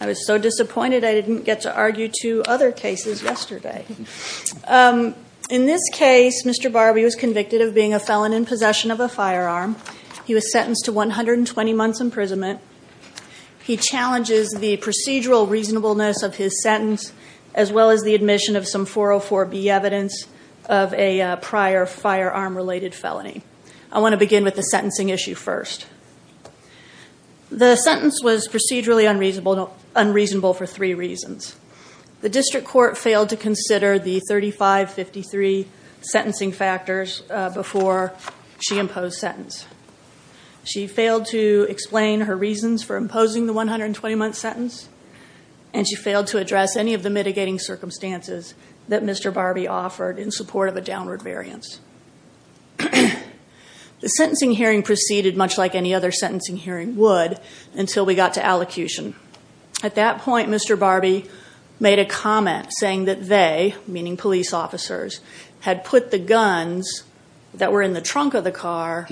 I was so disappointed I didn't get to argue two other cases yesterday. In this case, Mr. Barbee was convicted of being a felon in possession of a firearm. He was sentenced to 120 months imprisonment. He challenges the procedural reasonableness of his sentence, as well as the admission of some 404B evidence of a prior firearm-related felony. I want to begin with the sentencing issue first. The sentence was procedurally unreasonable for three reasons. The district court failed to consider the 3553 sentencing factors before she imposed sentence. She failed to explain her reasons for imposing the 120-month sentence, and she failed to address any of the mitigating circumstances that Mr. Barbee offered in support of a downward variance. The sentencing hearing proceeded much like any other sentencing hearing would until we got to allocution. At that point, Mr. Barbee made a comment saying that they, meaning police officers, had put the guns that were in the trunk of the car on the floorboard.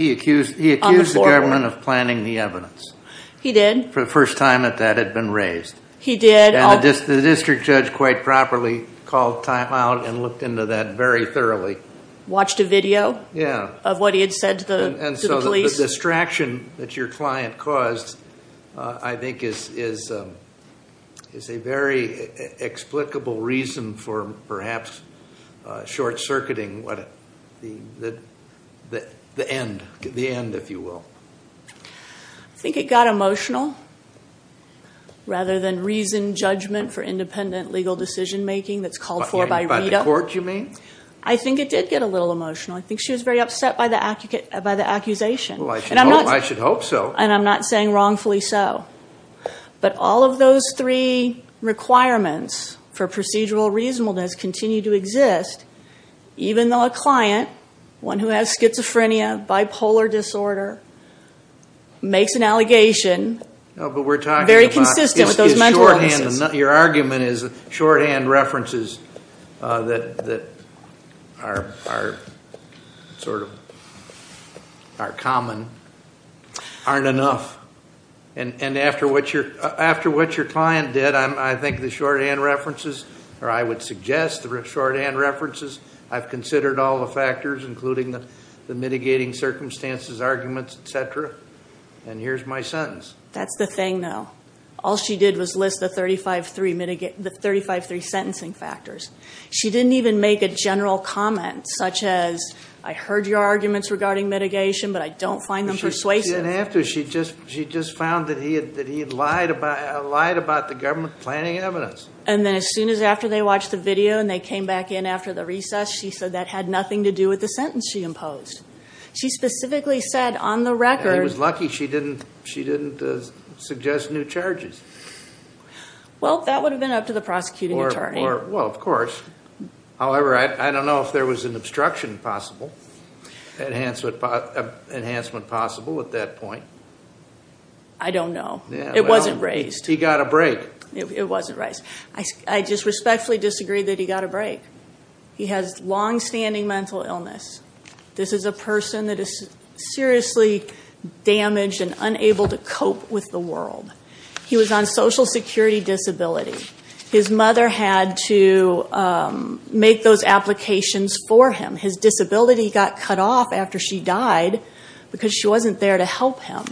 He accused the government of planning the evidence. He did. For the first time that that had been raised. He did. And the district judge quite properly called time out and looked into that very thoroughly. Watched a video? Yeah. Of what he had said to the police? And so the distraction that your client caused, I think, is a very explicable reason for perhaps short-circuiting the end, if you will. I think it got emotional rather than reasoned judgment for independent legal decision-making that's called for by RETA. By the court, you mean? I think it did get a little emotional. I think she was very upset by the accusation. Well, I should hope so. And I'm not saying wrongfully so. But all of those three requirements for procedural reasonableness continue to exist even though a client, one who has schizophrenia, bipolar disorder, makes an allegation very consistent with those mental illnesses. Your argument is shorthand references that are common aren't enough. And after what your client did, I think the shorthand references, or I would suggest the shorthand references, I've considered all the factors, including the mitigating circumstances, arguments, et cetera. And here's my sentence. That's the thing, though. All she did was list the 35-3 sentencing factors. She didn't even make a general comment, such as, I heard your arguments regarding mitigation, but I don't find them persuasive. She didn't have to. She just found that he had lied about the government planning evidence. And then as soon as after they watched the video and they came back in after the recess, she said that had nothing to do with the sentence she imposed. She specifically said, on the record- It was lucky she didn't suggest new charges. Well, that would have been up to the prosecuting attorney. Well, of course. However, I don't know if there was an obstruction possible, enhancement possible at that point. I don't know. It wasn't raised. He got a break. It wasn't raised. I just respectfully disagree that he got a break. He has longstanding mental illness. This is a person that is seriously damaged and unable to cope with the world. He was on social security disability. His mother had to make those applications for him. His disability got cut off after she died because she wasn't there to help him.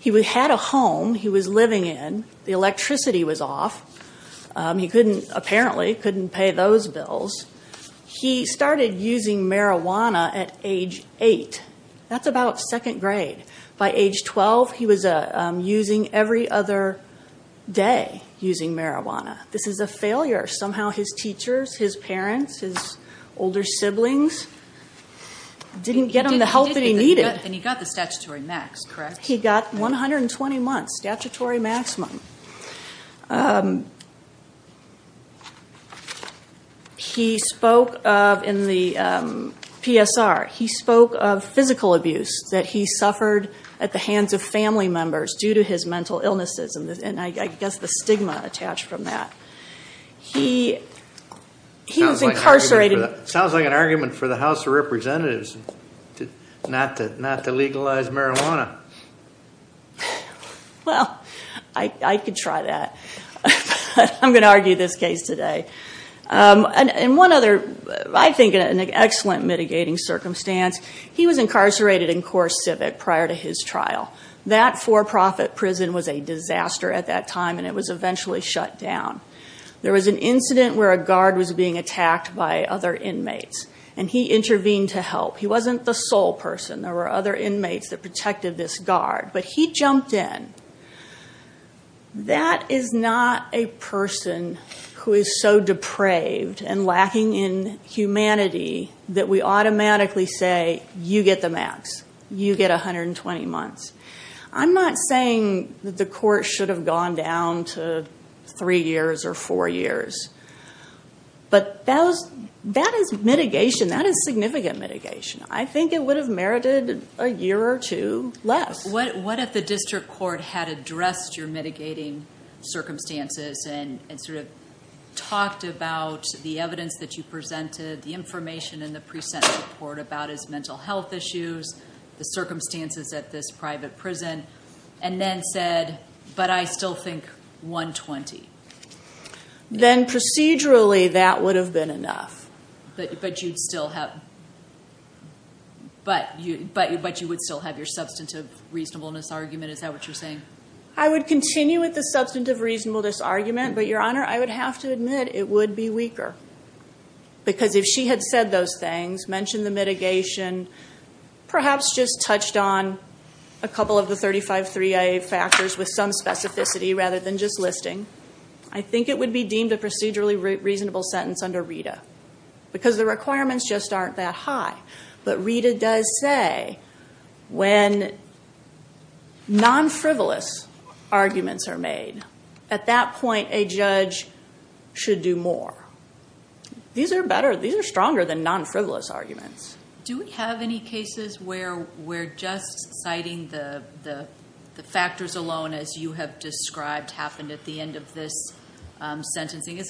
He had a home he was living in. The electricity was off. He apparently couldn't pay those bills. He started using marijuana at age eight. That's about second grade. By age 12, he was using every other day, using marijuana. This is a failure. Somehow, his teachers, his parents, his older siblings didn't get him the help that he needed. He got the statutory max, correct? He got 120 months, statutory maximum. He spoke of, in the PSR, he spoke of physical abuse that he suffered at the hands of family members due to his mental illnesses, and I guess the stigma attached from that. He was incarcerated- Sounds like an argument for the House of Representatives not to legalize marijuana. Well, I could try that, but I'm going to argue this case today. One other, I think, an excellent mitigating circumstance, he was incarcerated in Core Civic prior to his trial. That for-profit prison was a disaster at that time, and it was eventually shut down. There was an incident where a guard was being attacked by other inmates, and he intervened to help. He wasn't the sole person. There were other inmates that protected this guard, but he jumped in. That is not a person who is so depraved and lacking in humanity that we automatically say, you get the max. You get 120 months. I'm not saying that the court should have gone down to three years or four years, but that is mitigation. That is significant mitigation. I think it would have merited a year or two less. What if the district court had addressed your mitigating circumstances and talked about the evidence that you presented, the information in the pre-sentence report about his mental health issues, the circumstances at this private prison, and then said, but I still think 120? Then procedurally, that would have been enough. But you would still have your substantive reasonableness argument. Is that what you're saying? I would continue with the substantive reasonableness argument, but Your Honor, I would have to admit it would be weaker because if she had said those things, mentioned the mitigation, perhaps just touched on a couple of the 35-3IA factors with some specificity rather than just listing, I think it would be deemed a procedurally reasonable sentence under RETA because the requirements just aren't that high. But RETA does say when non-frivolous arguments are made, at that point, a judge should do more. These are better. These are stronger than non-frivolous arguments. Do we have any cases where we're just citing the factors alone as you have described happened at the end of this sentencing?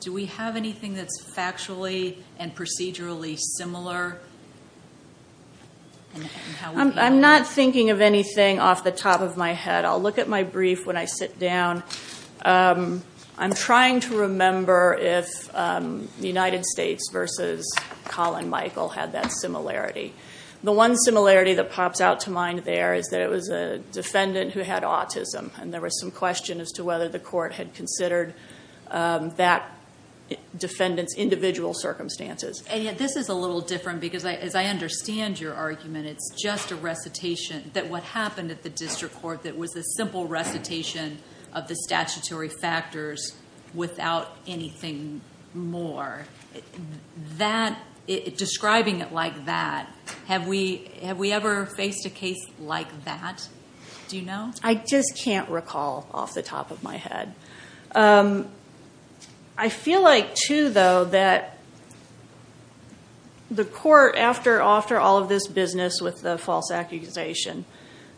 Do we have anything that's factually and procedurally similar? I'm not thinking of anything off the top of my head. I'll look at my brief when I sit down. I'm trying to remember if the United States versus Colin Michael had that similarity. The one similarity that pops out to mind there is that it was a defendant who had autism and there was some question as to whether the court had considered that defendant's individual circumstances. This is a little different because as I understand your argument, it's just a recitation that what happened at the district court that was a simple recitation of the statutory factors without anything more. Describing it like that, have we ever faced a case like that? Do you know? I just can't recall off the top of my head. I feel like, too, though, that the court after all of this business with the false accusation,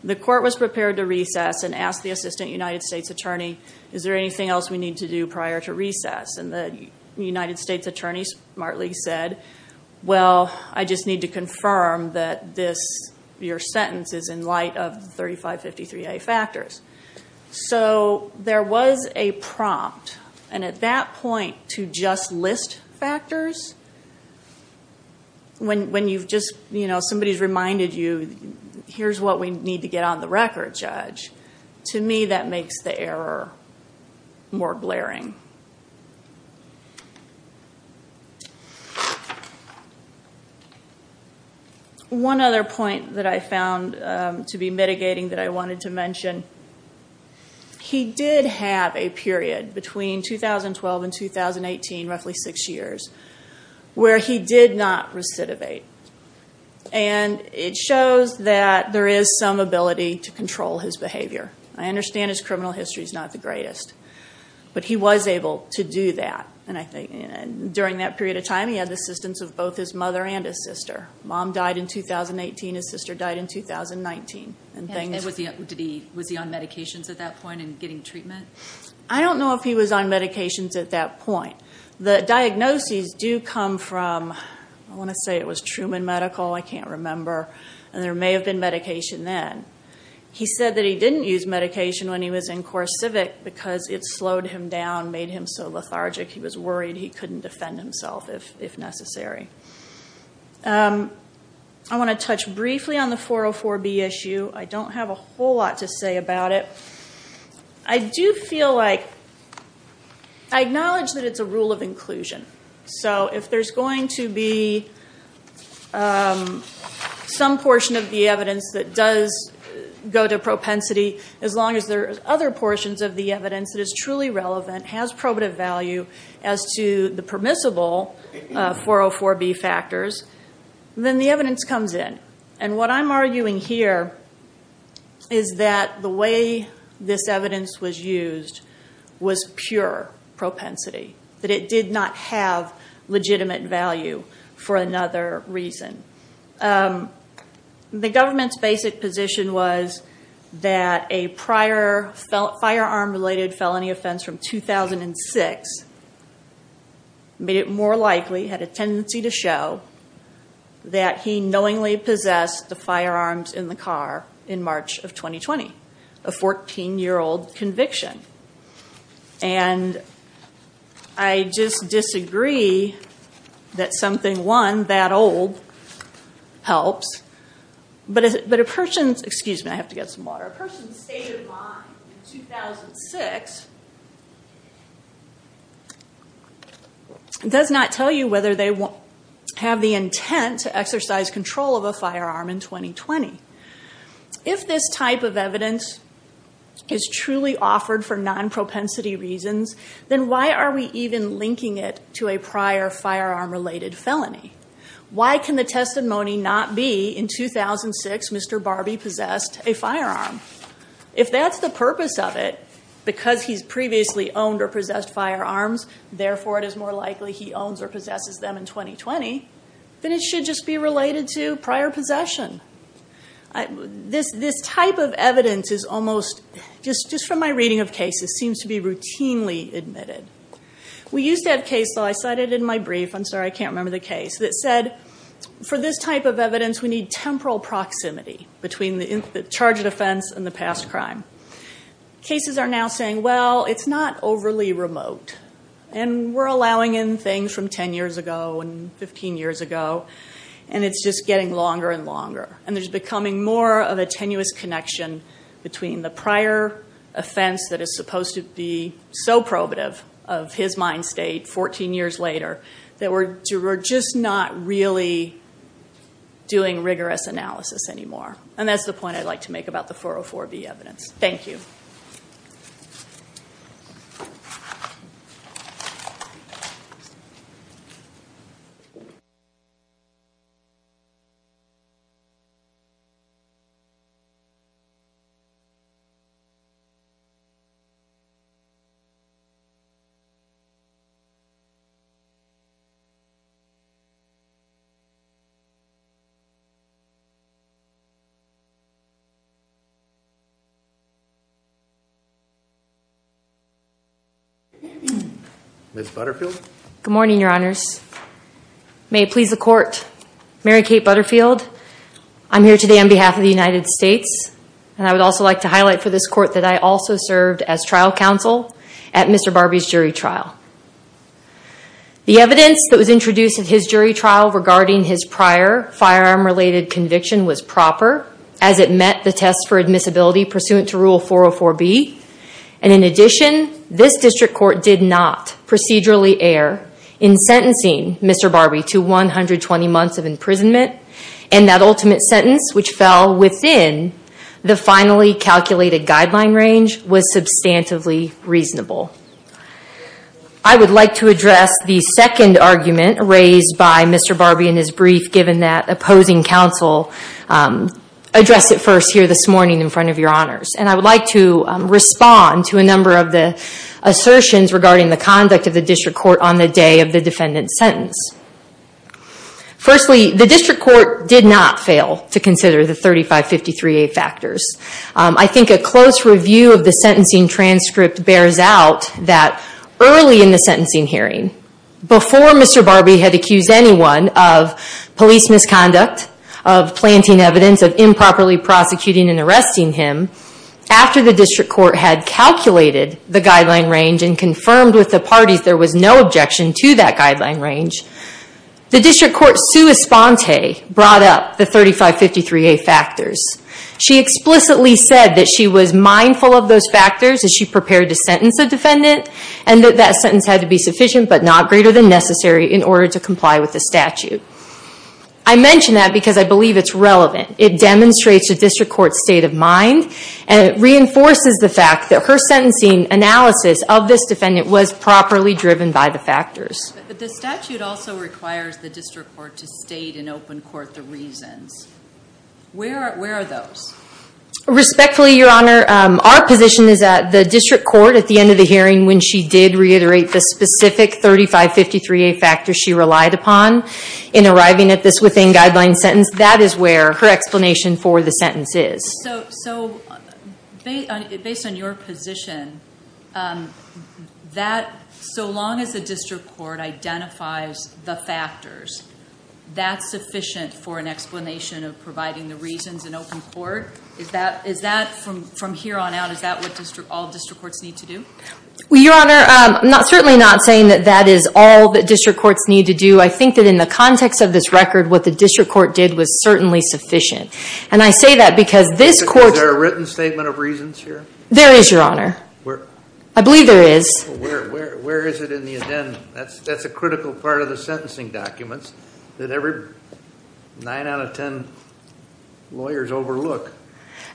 the court was prepared to recess and ask the assistant United States attorney, is there anything else we need to do prior to recess? The United States attorney smartly said, well, I just need to confirm that your sentence is in light of the 3553A factors. There was a prompt, and at that point, to just list factors, when somebody's reminded you here's what we need to get on the record, judge. To me, that makes the error more glaring. One other point that I found to be mitigating that I wanted to mention, he did have a period between 2012 and 2018, roughly six years, where he did not recidivate. It shows that there is some ability to control his behavior. I understand his criminal history is not the greatest, but he was able to do that. During that period of time, he had the assistance of both his mother and his sister. Mom died in 2018, his sister died in 2019. Was he on medications at that point and getting treatment? I don't know if he was on medications at that point. The diagnoses do come from, I want to say it was Truman Medical, I can't remember, and there may have been medication then. He said that he didn't use medication when he was in CoreCivic because it slowed him down, made him so lethargic, he was worried he couldn't defend himself if necessary. I want to touch briefly on the 404B issue. I don't have a whole lot to say about it. I do feel like, I acknowledge that it's a rule of inclusion. If there's going to be some portion of the evidence that does go to propensity, as long as there are other portions of the evidence that is truly relevant, has probative value as to the permissible 404B factors, then the evidence comes in. What I'm arguing here is that the way this evidence was used was pure propensity. It did not have legitimate value for another reason. The government's basic position was that a prior firearm-related felony offense from 2006 made it more likely, had a tendency to show, that he knowingly possessed the firearms in the car in March of 2020, a 14-year-old conviction. I just disagree that something, one, that old, helps, but a person's, excuse me, I have to get some water, a person's state of mind in 2006 does not tell you whether they have the intent to exercise control of a firearm in 2020. If this type of evidence is truly offered for non-propensity reasons, then why are we even linking it to a prior firearm-related felony? Why can the testimony not be, in 2006, Mr. Barbie possessed a firearm? If that's the purpose of it, because he's previously owned or possessed firearms, therefore it is more likely he owns or possesses them in 2020, then it should just be related to prior possession. This type of evidence is almost, just from my reading of cases, seems to be routinely admitted. We used to have a case, though, I cited in my brief, I'm sorry, I can't remember the case, that said, for this type of evidence, we need temporal proximity between the charge of offense and the past crime. Cases are now saying, well, it's not overly remote, and we're allowing in things from 10 years ago and 15 years ago, and it's just getting longer and longer, and there's becoming more of a tenuous connection between the prior offense that is supposed to be so probative of his mind state 14 years later, that we're just not really doing rigorous analysis anymore. And that's the point I'd like to make about the 404B evidence. Thank you. Ms. Butterfield? Good morning, your honors. May it please the court, Mary Kate Butterfield. I'm here today on behalf of the United States, and I would also like to highlight for this court that I also served as trial counsel at Mr. Barbie's jury trial. The evidence that was introduced at his jury trial regarding his prior firearm-related conviction was proper, as it met the test for admissibility pursuant to Rule 404B. And in addition, this district court did not procedurally err in sentencing Mr. Barbie to 120 months of imprisonment, and that ultimate sentence, which fell within the finally calculated guideline range, was substantively reasonable. I would like to address the second argument raised by Mr. Barbie in his brief, given that opposing counsel addressed it first here this morning in front of your honors. And I would like to respond to a number of the assertions regarding the conduct of the district court on the day of the defendant's sentence. Firstly, the district court did not fail to consider the 3553A factors. I think a close review of the sentencing transcript bears out that early in the sentencing hearing, before Mr. Barbie had accused anyone of police misconduct, of planting evidence, of improperly prosecuting and arresting him, after the district court had calculated the guideline range and confirmed with the parties there was no objection to that guideline range, the district court sua sponte brought up the 3553A factors. She explicitly said that she was mindful of those factors as she prepared to sentence the defendant, and that that sentence had to be sufficient but not greater than necessary in order to comply with the statute. I mention that because I believe it's relevant. It demonstrates the district court's state of mind, and it reinforces the fact that her sentencing analysis of this defendant was properly driven by the factors. But the statute also requires the district court to state in open court the reasons. Where are those? Respectfully, your honor, our position is that the district court at the end of the hearing when she did reiterate the specific 3553A factors she relied upon in arriving at this within guideline sentence, that is where her explanation for the sentence is. So based on your position, so long as the district court identifies the factors, that's sufficient for an explanation of providing the reasons in open court? Is that from here on out, is that what all district courts need to do? Well, your honor, I'm certainly not saying that that is all that district courts need to do. I think that in the context of this record, what the district court did was certainly sufficient. And I say that because this court- Is there a written statement of reasons here? I believe there is. Where is it in the addendum? That's a critical part of the sentencing documents that every nine out of ten lawyers overlook.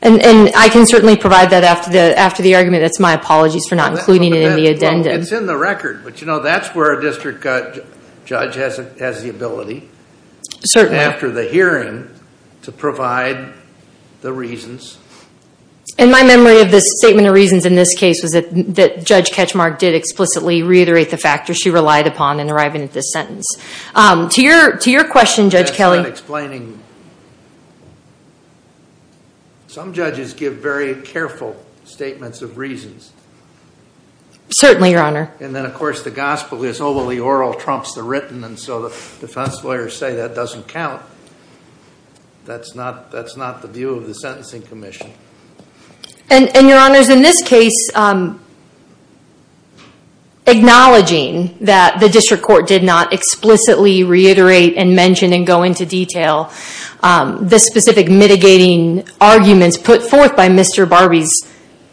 And I can certainly provide that after the argument. That's my apologies for not including it in the addendum. It's in the record. But you know, that's where a district judge has the ability after the hearing to provide the reasons. And my memory of the statement of reasons in this case was that Judge Ketchmark did explicitly reiterate the factors. She relied upon in arriving at this sentence. To your question, Judge Kelly- That's not explaining. Some judges give very careful statements of reasons. Certainly, your honor. And then, of course, the gospel is overly oral trumps the written. And so the defense lawyers say that doesn't count. That's not the view of the Sentencing Commission. And your honors, in this case, acknowledging that the district court did not explicitly reiterate and mention and go into detail the specific mitigating arguments put forth by Mr. Barbee's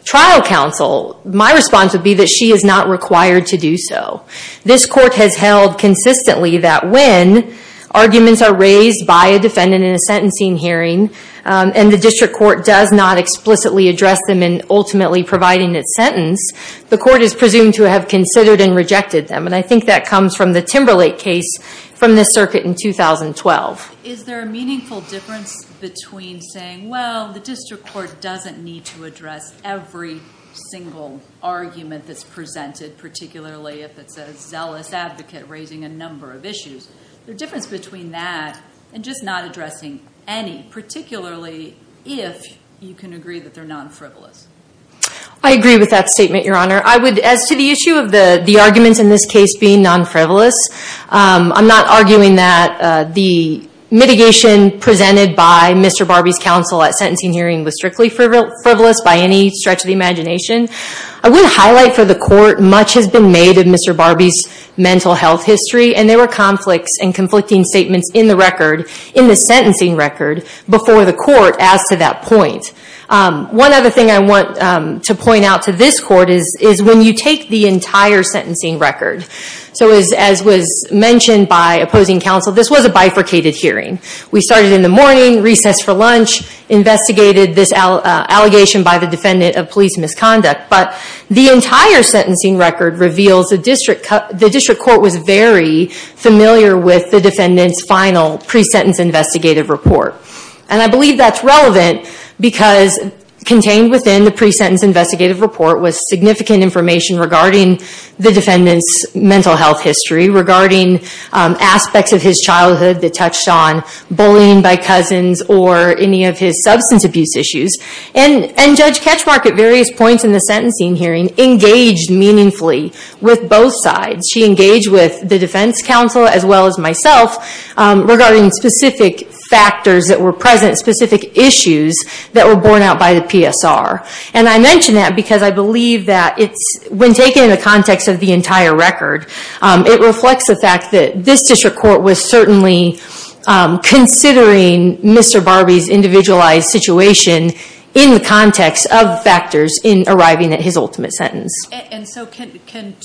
trial counsel, my response would be that she is not required to do so. This court has held consistently that when arguments are raised by a defendant in a sentencing hearing and the district court does not explicitly address them in ultimately providing its sentence, the court is presumed to have considered and rejected them. And I think that comes from the Timberlake case from this circuit in 2012. Is there a meaningful difference between saying, well, the district court doesn't need to address every single argument that's presented, particularly if it's a zealous advocate raising a number of issues? Is there a difference between that and just not addressing any, particularly if you can agree that they're non-frivolous? I agree with that statement, your honor. As to the issue of the arguments in this case being non-frivolous, I'm not arguing that the mitigation presented by Mr. Barbee's counsel at sentencing hearing was strictly frivolous by any stretch of the imagination. I would highlight for the court much has been made of Mr. Barbee's mental health history. And there were conflicts and conflicting statements in the record, in the sentencing record before the court as to that point. One other thing I want to point out to this court is when you take the entire sentencing record, so as was mentioned by opposing counsel, this was a bifurcated hearing. We started in the morning, recessed for lunch, investigated this allegation by the defendant of police misconduct. But the entire sentencing record reveals the district court was very familiar with the defendant's final pre-sentence investigative report. And I believe that's relevant because contained within the pre-sentence investigative report was significant information regarding the defendant's mental health history, regarding aspects of his childhood that touched on bullying by cousins or any of his substance abuse issues. And Judge Katchmark at various points in the sentencing hearing engaged meaningfully with both sides. She engaged with the defense counsel as well as myself regarding specific factors that were present, specific issues that were borne out by the PSR. And I mention that because I believe that when taken in the context of the entire record, it reflects the fact that this district court was certainly considering Mr. Barbee's individualized situation in the context of factors in arriving at his ultimate sentence. And so can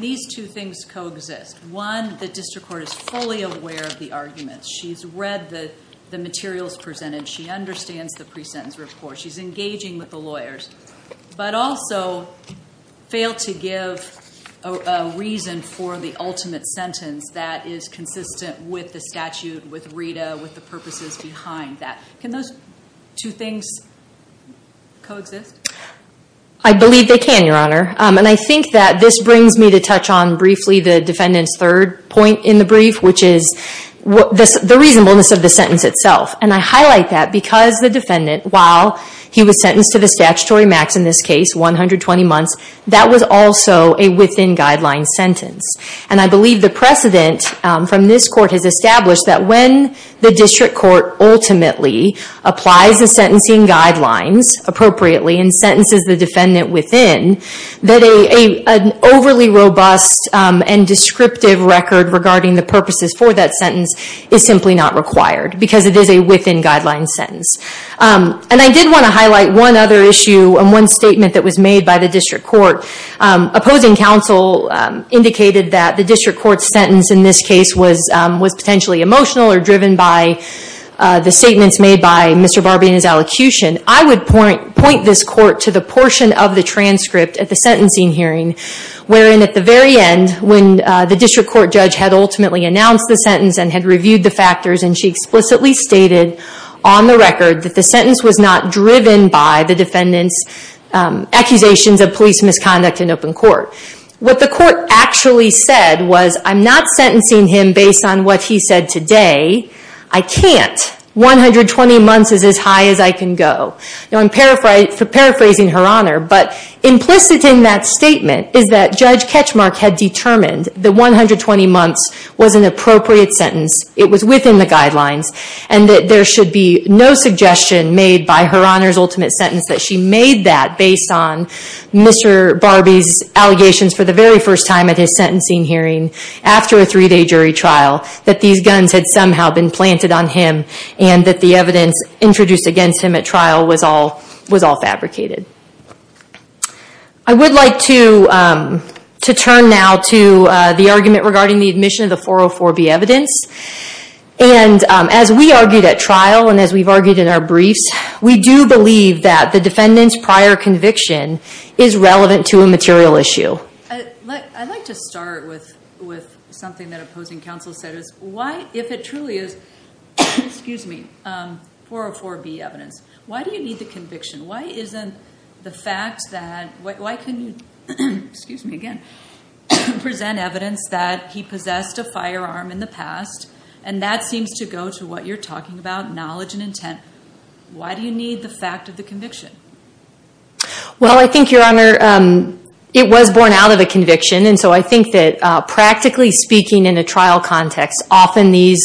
these two things coexist? One, the district court is fully aware of the arguments. She's read the materials presented. She understands the pre-sentence report. She's engaging with the lawyers. But also failed to give a reason for the ultimate sentence that is consistent with the statute, with Rita, with the purposes behind that. Can those two things coexist? I believe they can, Your Honor. And I think that this brings me to touch on briefly the defendant's third point in the brief, which is the reasonableness of the sentence itself. And I highlight that because the defendant, while he was sentenced to the statutory max in this case, 120 months, that was also a within-guideline sentence. And I believe the precedent from this court has established that when the district court ultimately applies the sentencing guidelines appropriately and sentences the defendant within, that an overly robust and descriptive record regarding the purposes for that sentence is simply not required because it is a within-guideline sentence. And I did want to highlight one other issue and one statement that was made by the district court. Opposing counsel indicated that the district court's sentence in this case was potentially emotional or driven by the statements made by Mr. Barbee and his allocution. I would point this court to the portion of the transcript at the sentencing hearing wherein at the very end when the district court judge had ultimately announced the sentence and had reviewed the factors and she explicitly stated on the record that the sentence was not driven by the defendant's accusations of police misconduct in open court. What the court actually said was, I'm not sentencing him based on what he said today. I can't. 120 months is as high as I can go. Now I'm paraphrasing Her Honor, but implicit in that statement is that Judge Ketchmark had determined that 120 months was an appropriate sentence. It was within the guidelines and that there should be no suggestion made by Her Honor's allegations for the very first time at his sentencing hearing after a three-day jury trial that these guns had somehow been planted on him and that the evidence introduced against him at trial was all fabricated. I would like to turn now to the argument regarding the admission of the 404B evidence. As we argued at trial and as we've argued in our briefs, we do believe that the defendant's I'd like to start with something that opposing counsel said is why, if it truly is, excuse me, 404B evidence, why do you need the conviction? Why isn't the fact that, why can you, excuse me again, present evidence that he possessed a firearm in the past and that seems to go to what you're talking about, knowledge and intent. Why do you need the fact of the conviction? Well, I think, Your Honor, it was born out of a conviction and so I think that practically speaking in a trial context, often these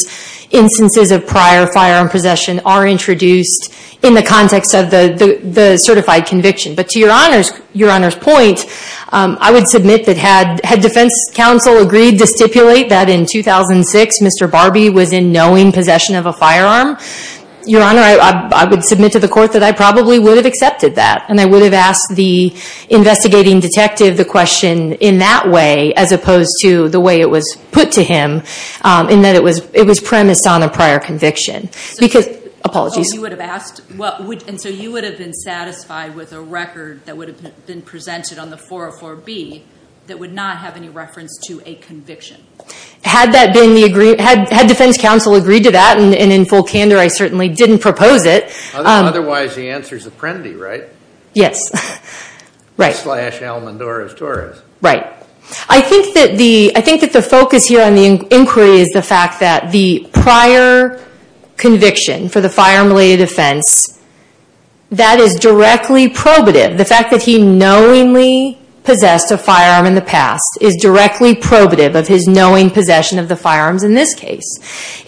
instances of prior firearm possession are introduced in the context of the certified conviction. But to Your Honor's point, I would submit that had defense counsel agreed to stipulate that in 2006 Mr. Barbie was in knowing possession of a firearm, Your Honor, I would submit to the court that I probably would have accepted that and I would have asked the investigating detective the question in that way as opposed to the way it was put to him in that it was premised on a prior conviction. Because, apologies. Oh, you would have asked? And so you would have been satisfied with a record that would have been presented on the 404B that would not have any reference to a conviction? Had that been the, had defense counsel agreed to that and in full candor I certainly didn't propose it. Otherwise, the answer is Apprendi, right? Yes. Right. Slash Almonduras Torres. Right. I think that the focus here on the inquiry is the fact that the prior conviction for the firearm-related offense, that is directly probative. The fact that he knowingly possessed a firearm in the past is directly probative of his knowing possession of the firearms in this case.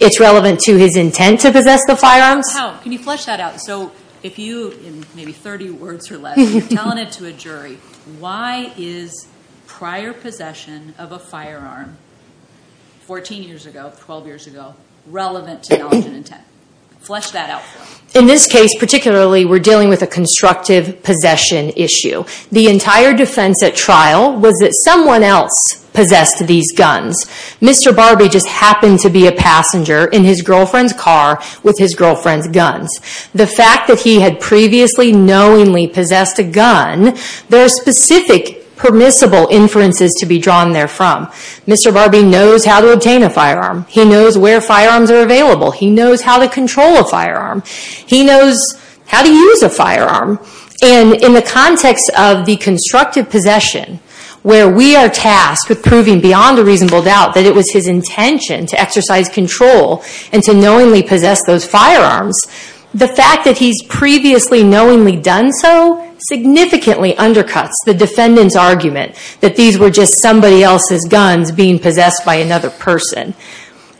It's relevant to his intent to possess the firearms. How? Can you flesh that out? So, if you, in maybe 30 words or less, you're telling it to a jury, why is prior possession of a firearm 14 years ago, 12 years ago, relevant to knowledge and intent? Flesh that out for us. In this case, particularly, we're dealing with a constructive possession issue. The entire defense at trial was that someone else possessed these guns. Mr. Barbee just happened to be a passenger in his girlfriend's car with his girlfriend's guns. The fact that he had previously knowingly possessed a gun, there are specific permissible inferences to be drawn there from. Mr. Barbee knows how to obtain a firearm. He knows where firearms are available. He knows how to control a firearm. He knows how to use a firearm. In the context of the constructive possession, where we are tasked with proving beyond a doubt that it was his intention to exercise control and to knowingly possess those firearms, the fact that he's previously knowingly done so significantly undercuts the defendant's argument that these were just somebody else's guns being possessed by another person.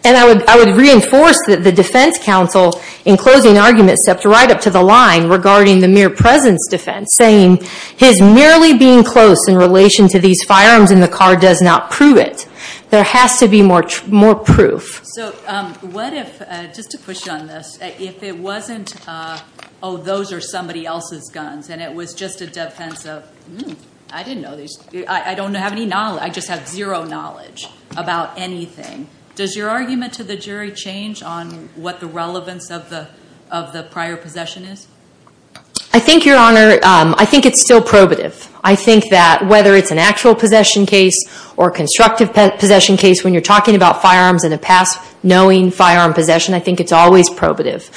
And I would reinforce that the defense counsel, in closing arguments, stepped right up to the line regarding the mere presence defense, saying, his merely being close in relation to these firearms in the car does not prove it. There has to be more proof. So what if, just to push on this, if it wasn't, oh, those are somebody else's guns, and it was just a defense of, hmm, I didn't know these, I don't have any knowledge, I just have zero knowledge about anything. Does your argument to the jury change on what the relevance of the prior possession is? I think, Your Honor, I think it's still probative. I think that whether it's an actual possession case or a constructive possession case, when you're talking about firearms and a past knowing firearm possession, I think it's always probative.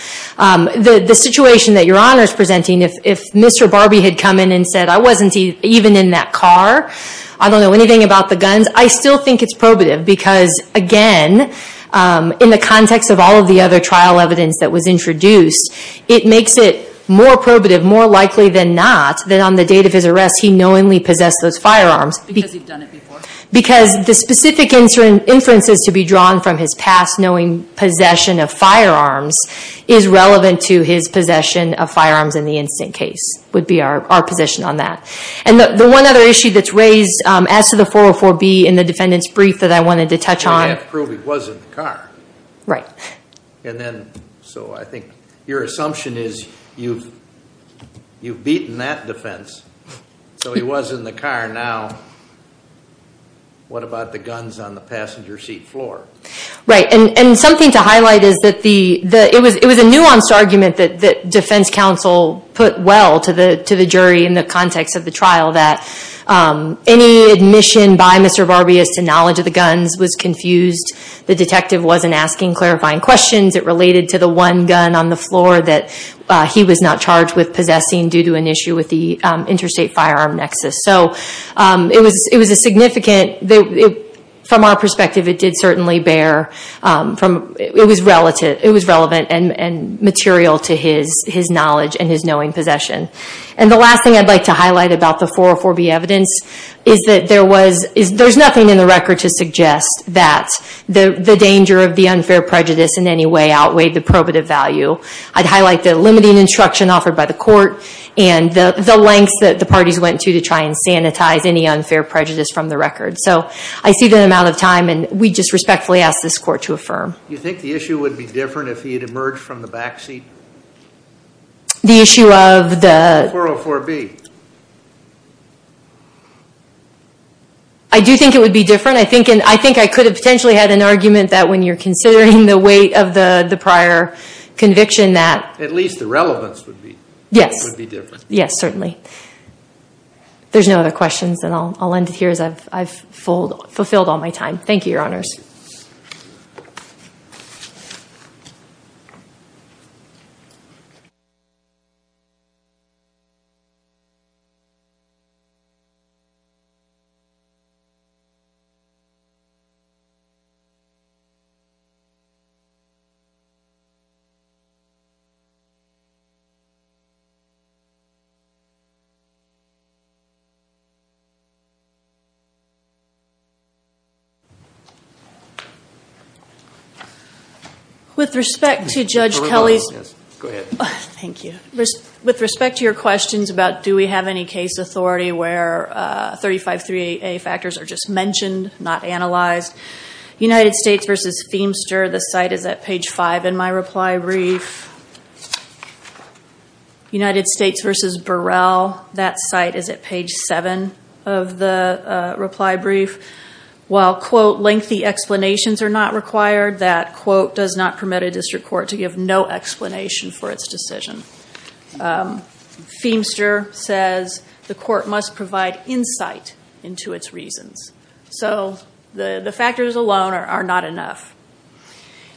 The situation that Your Honor is presenting, if Mr. Barbie had come in and said, I wasn't even in that car, I don't know anything about the guns, I still think it's probative because, again, in the context of all of the other trial evidence that was introduced, it makes it more probative, more likely than not, that on the date of his arrest, he knowingly possessed those firearms. Because he'd done it before? Because the specific inferences to be drawn from his past knowing possession of firearms is relevant to his possession of firearms in the incident case, would be our position on that. And the one other issue that's raised, as to the 404B in the defendant's brief that I wanted to touch on. Well, you have to prove he was in the car. Right. And then, so I think your assumption is, you've beaten that defense, so he was in the car. Now, what about the guns on the passenger seat floor? Right. And something to highlight is that it was a nuanced argument that defense counsel put well to the jury in the context of the trial, that any admission by Mr. Barbie as to knowledge of the guns was confused. The detective wasn't asking clarifying questions. It related to the one gun on the floor that he was not charged with possessing due to an issue with the interstate firearm nexus. So it was a significant, from our perspective, it did certainly bear, it was relevant and material to his knowledge and his knowing possession. And the last thing I'd like to highlight about the 404B evidence is that there's nothing in the record to suggest that the danger of the unfair prejudice in any way outweighed the probative value. I'd highlight the limiting instruction offered by the court and the lengths that the parties went to to try and sanitize any unfair prejudice from the record. So I see the amount of time, and we just respectfully ask this court to affirm. You think the issue would be different if he had emerged from the backseat? The issue of the... 404B. I do think it would be different. I think I could have potentially had an argument that when you're considering the weight of the prior conviction that... At least the relevance would be different. Yes, certainly. There's no other questions and I'll end it here as I've fulfilled all my time. Thank you, your honors. Thank you. With respect to Judge Kelly's... Yes, go ahead. Thank you. With respect to your questions about do we have any case authority where 353A factors are just mentioned, not analyzed, United States v. Feimster, the site is at page five in my reply brief. United States v. Burrell, that site is at page seven of the reply brief. While, quote, lengthy explanations are not required, that, quote, does not permit a district court to give no explanation for its decision. Feimster says the court must provide insight into its reasons. So, the factors alone are not enough.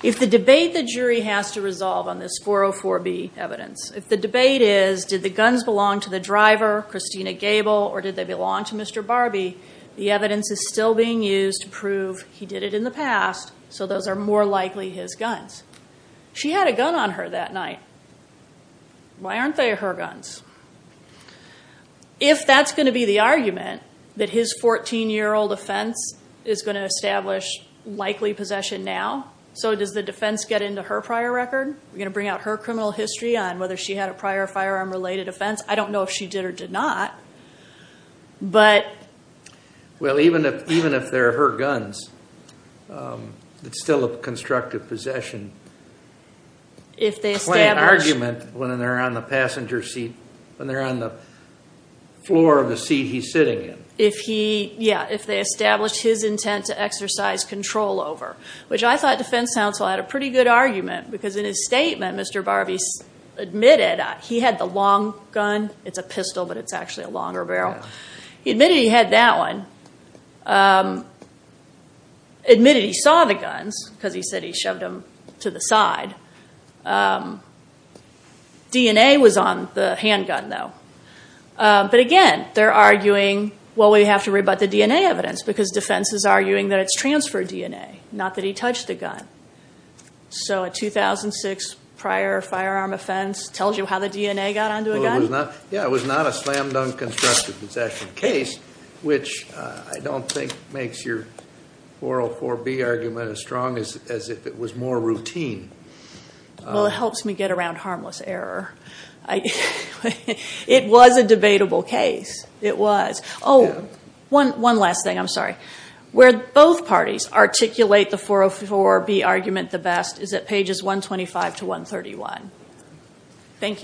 If the debate the jury has to resolve on this 404B evidence, if the debate is did the guns belong to the driver, Christina Gable, or did they belong to Mr. Barbie, the evidence is still being used to prove he did it in the past, so those are more likely his guns. She had a gun on her that night. Why aren't they her guns? If that's going to be the argument, that his 14-year-old offense is going to establish likely possession now, so does the defense get into her prior record? Are we going to bring out her criminal history on whether she had a prior firearm-related offense? I don't know if she did or did not, but... Well, even if they're her guns, it's still a constructive possession claim argument when they're on the passenger seat, when they're on the floor of the seat he's sitting in. If he, yeah, if they establish his intent to exercise control over, which I thought defense counsel had a pretty good argument because in his statement, Mr. Barbie admitted he had the long gun. It's a pistol, but it's actually a longer barrel. He admitted he had that one, admitted he saw the guns because he said he shoved them to the side. DNA was on the handgun, though. But again, they're arguing, well, we have to rebut the DNA evidence because defense is arguing that it's transferred DNA, not that he touched the gun. So a 2006 prior firearm offense tells you how the DNA got onto a gun? Yeah, it was not a slam-dunk constructive possession case, which I don't think makes your 404B argument as strong as if it was more routine. Well, it helps me get around harmless error. It was a debatable case. It was. Oh, one last thing. I'm sorry. Where both parties articulate the 404B argument the best is at pages 125 to 131. Thank you.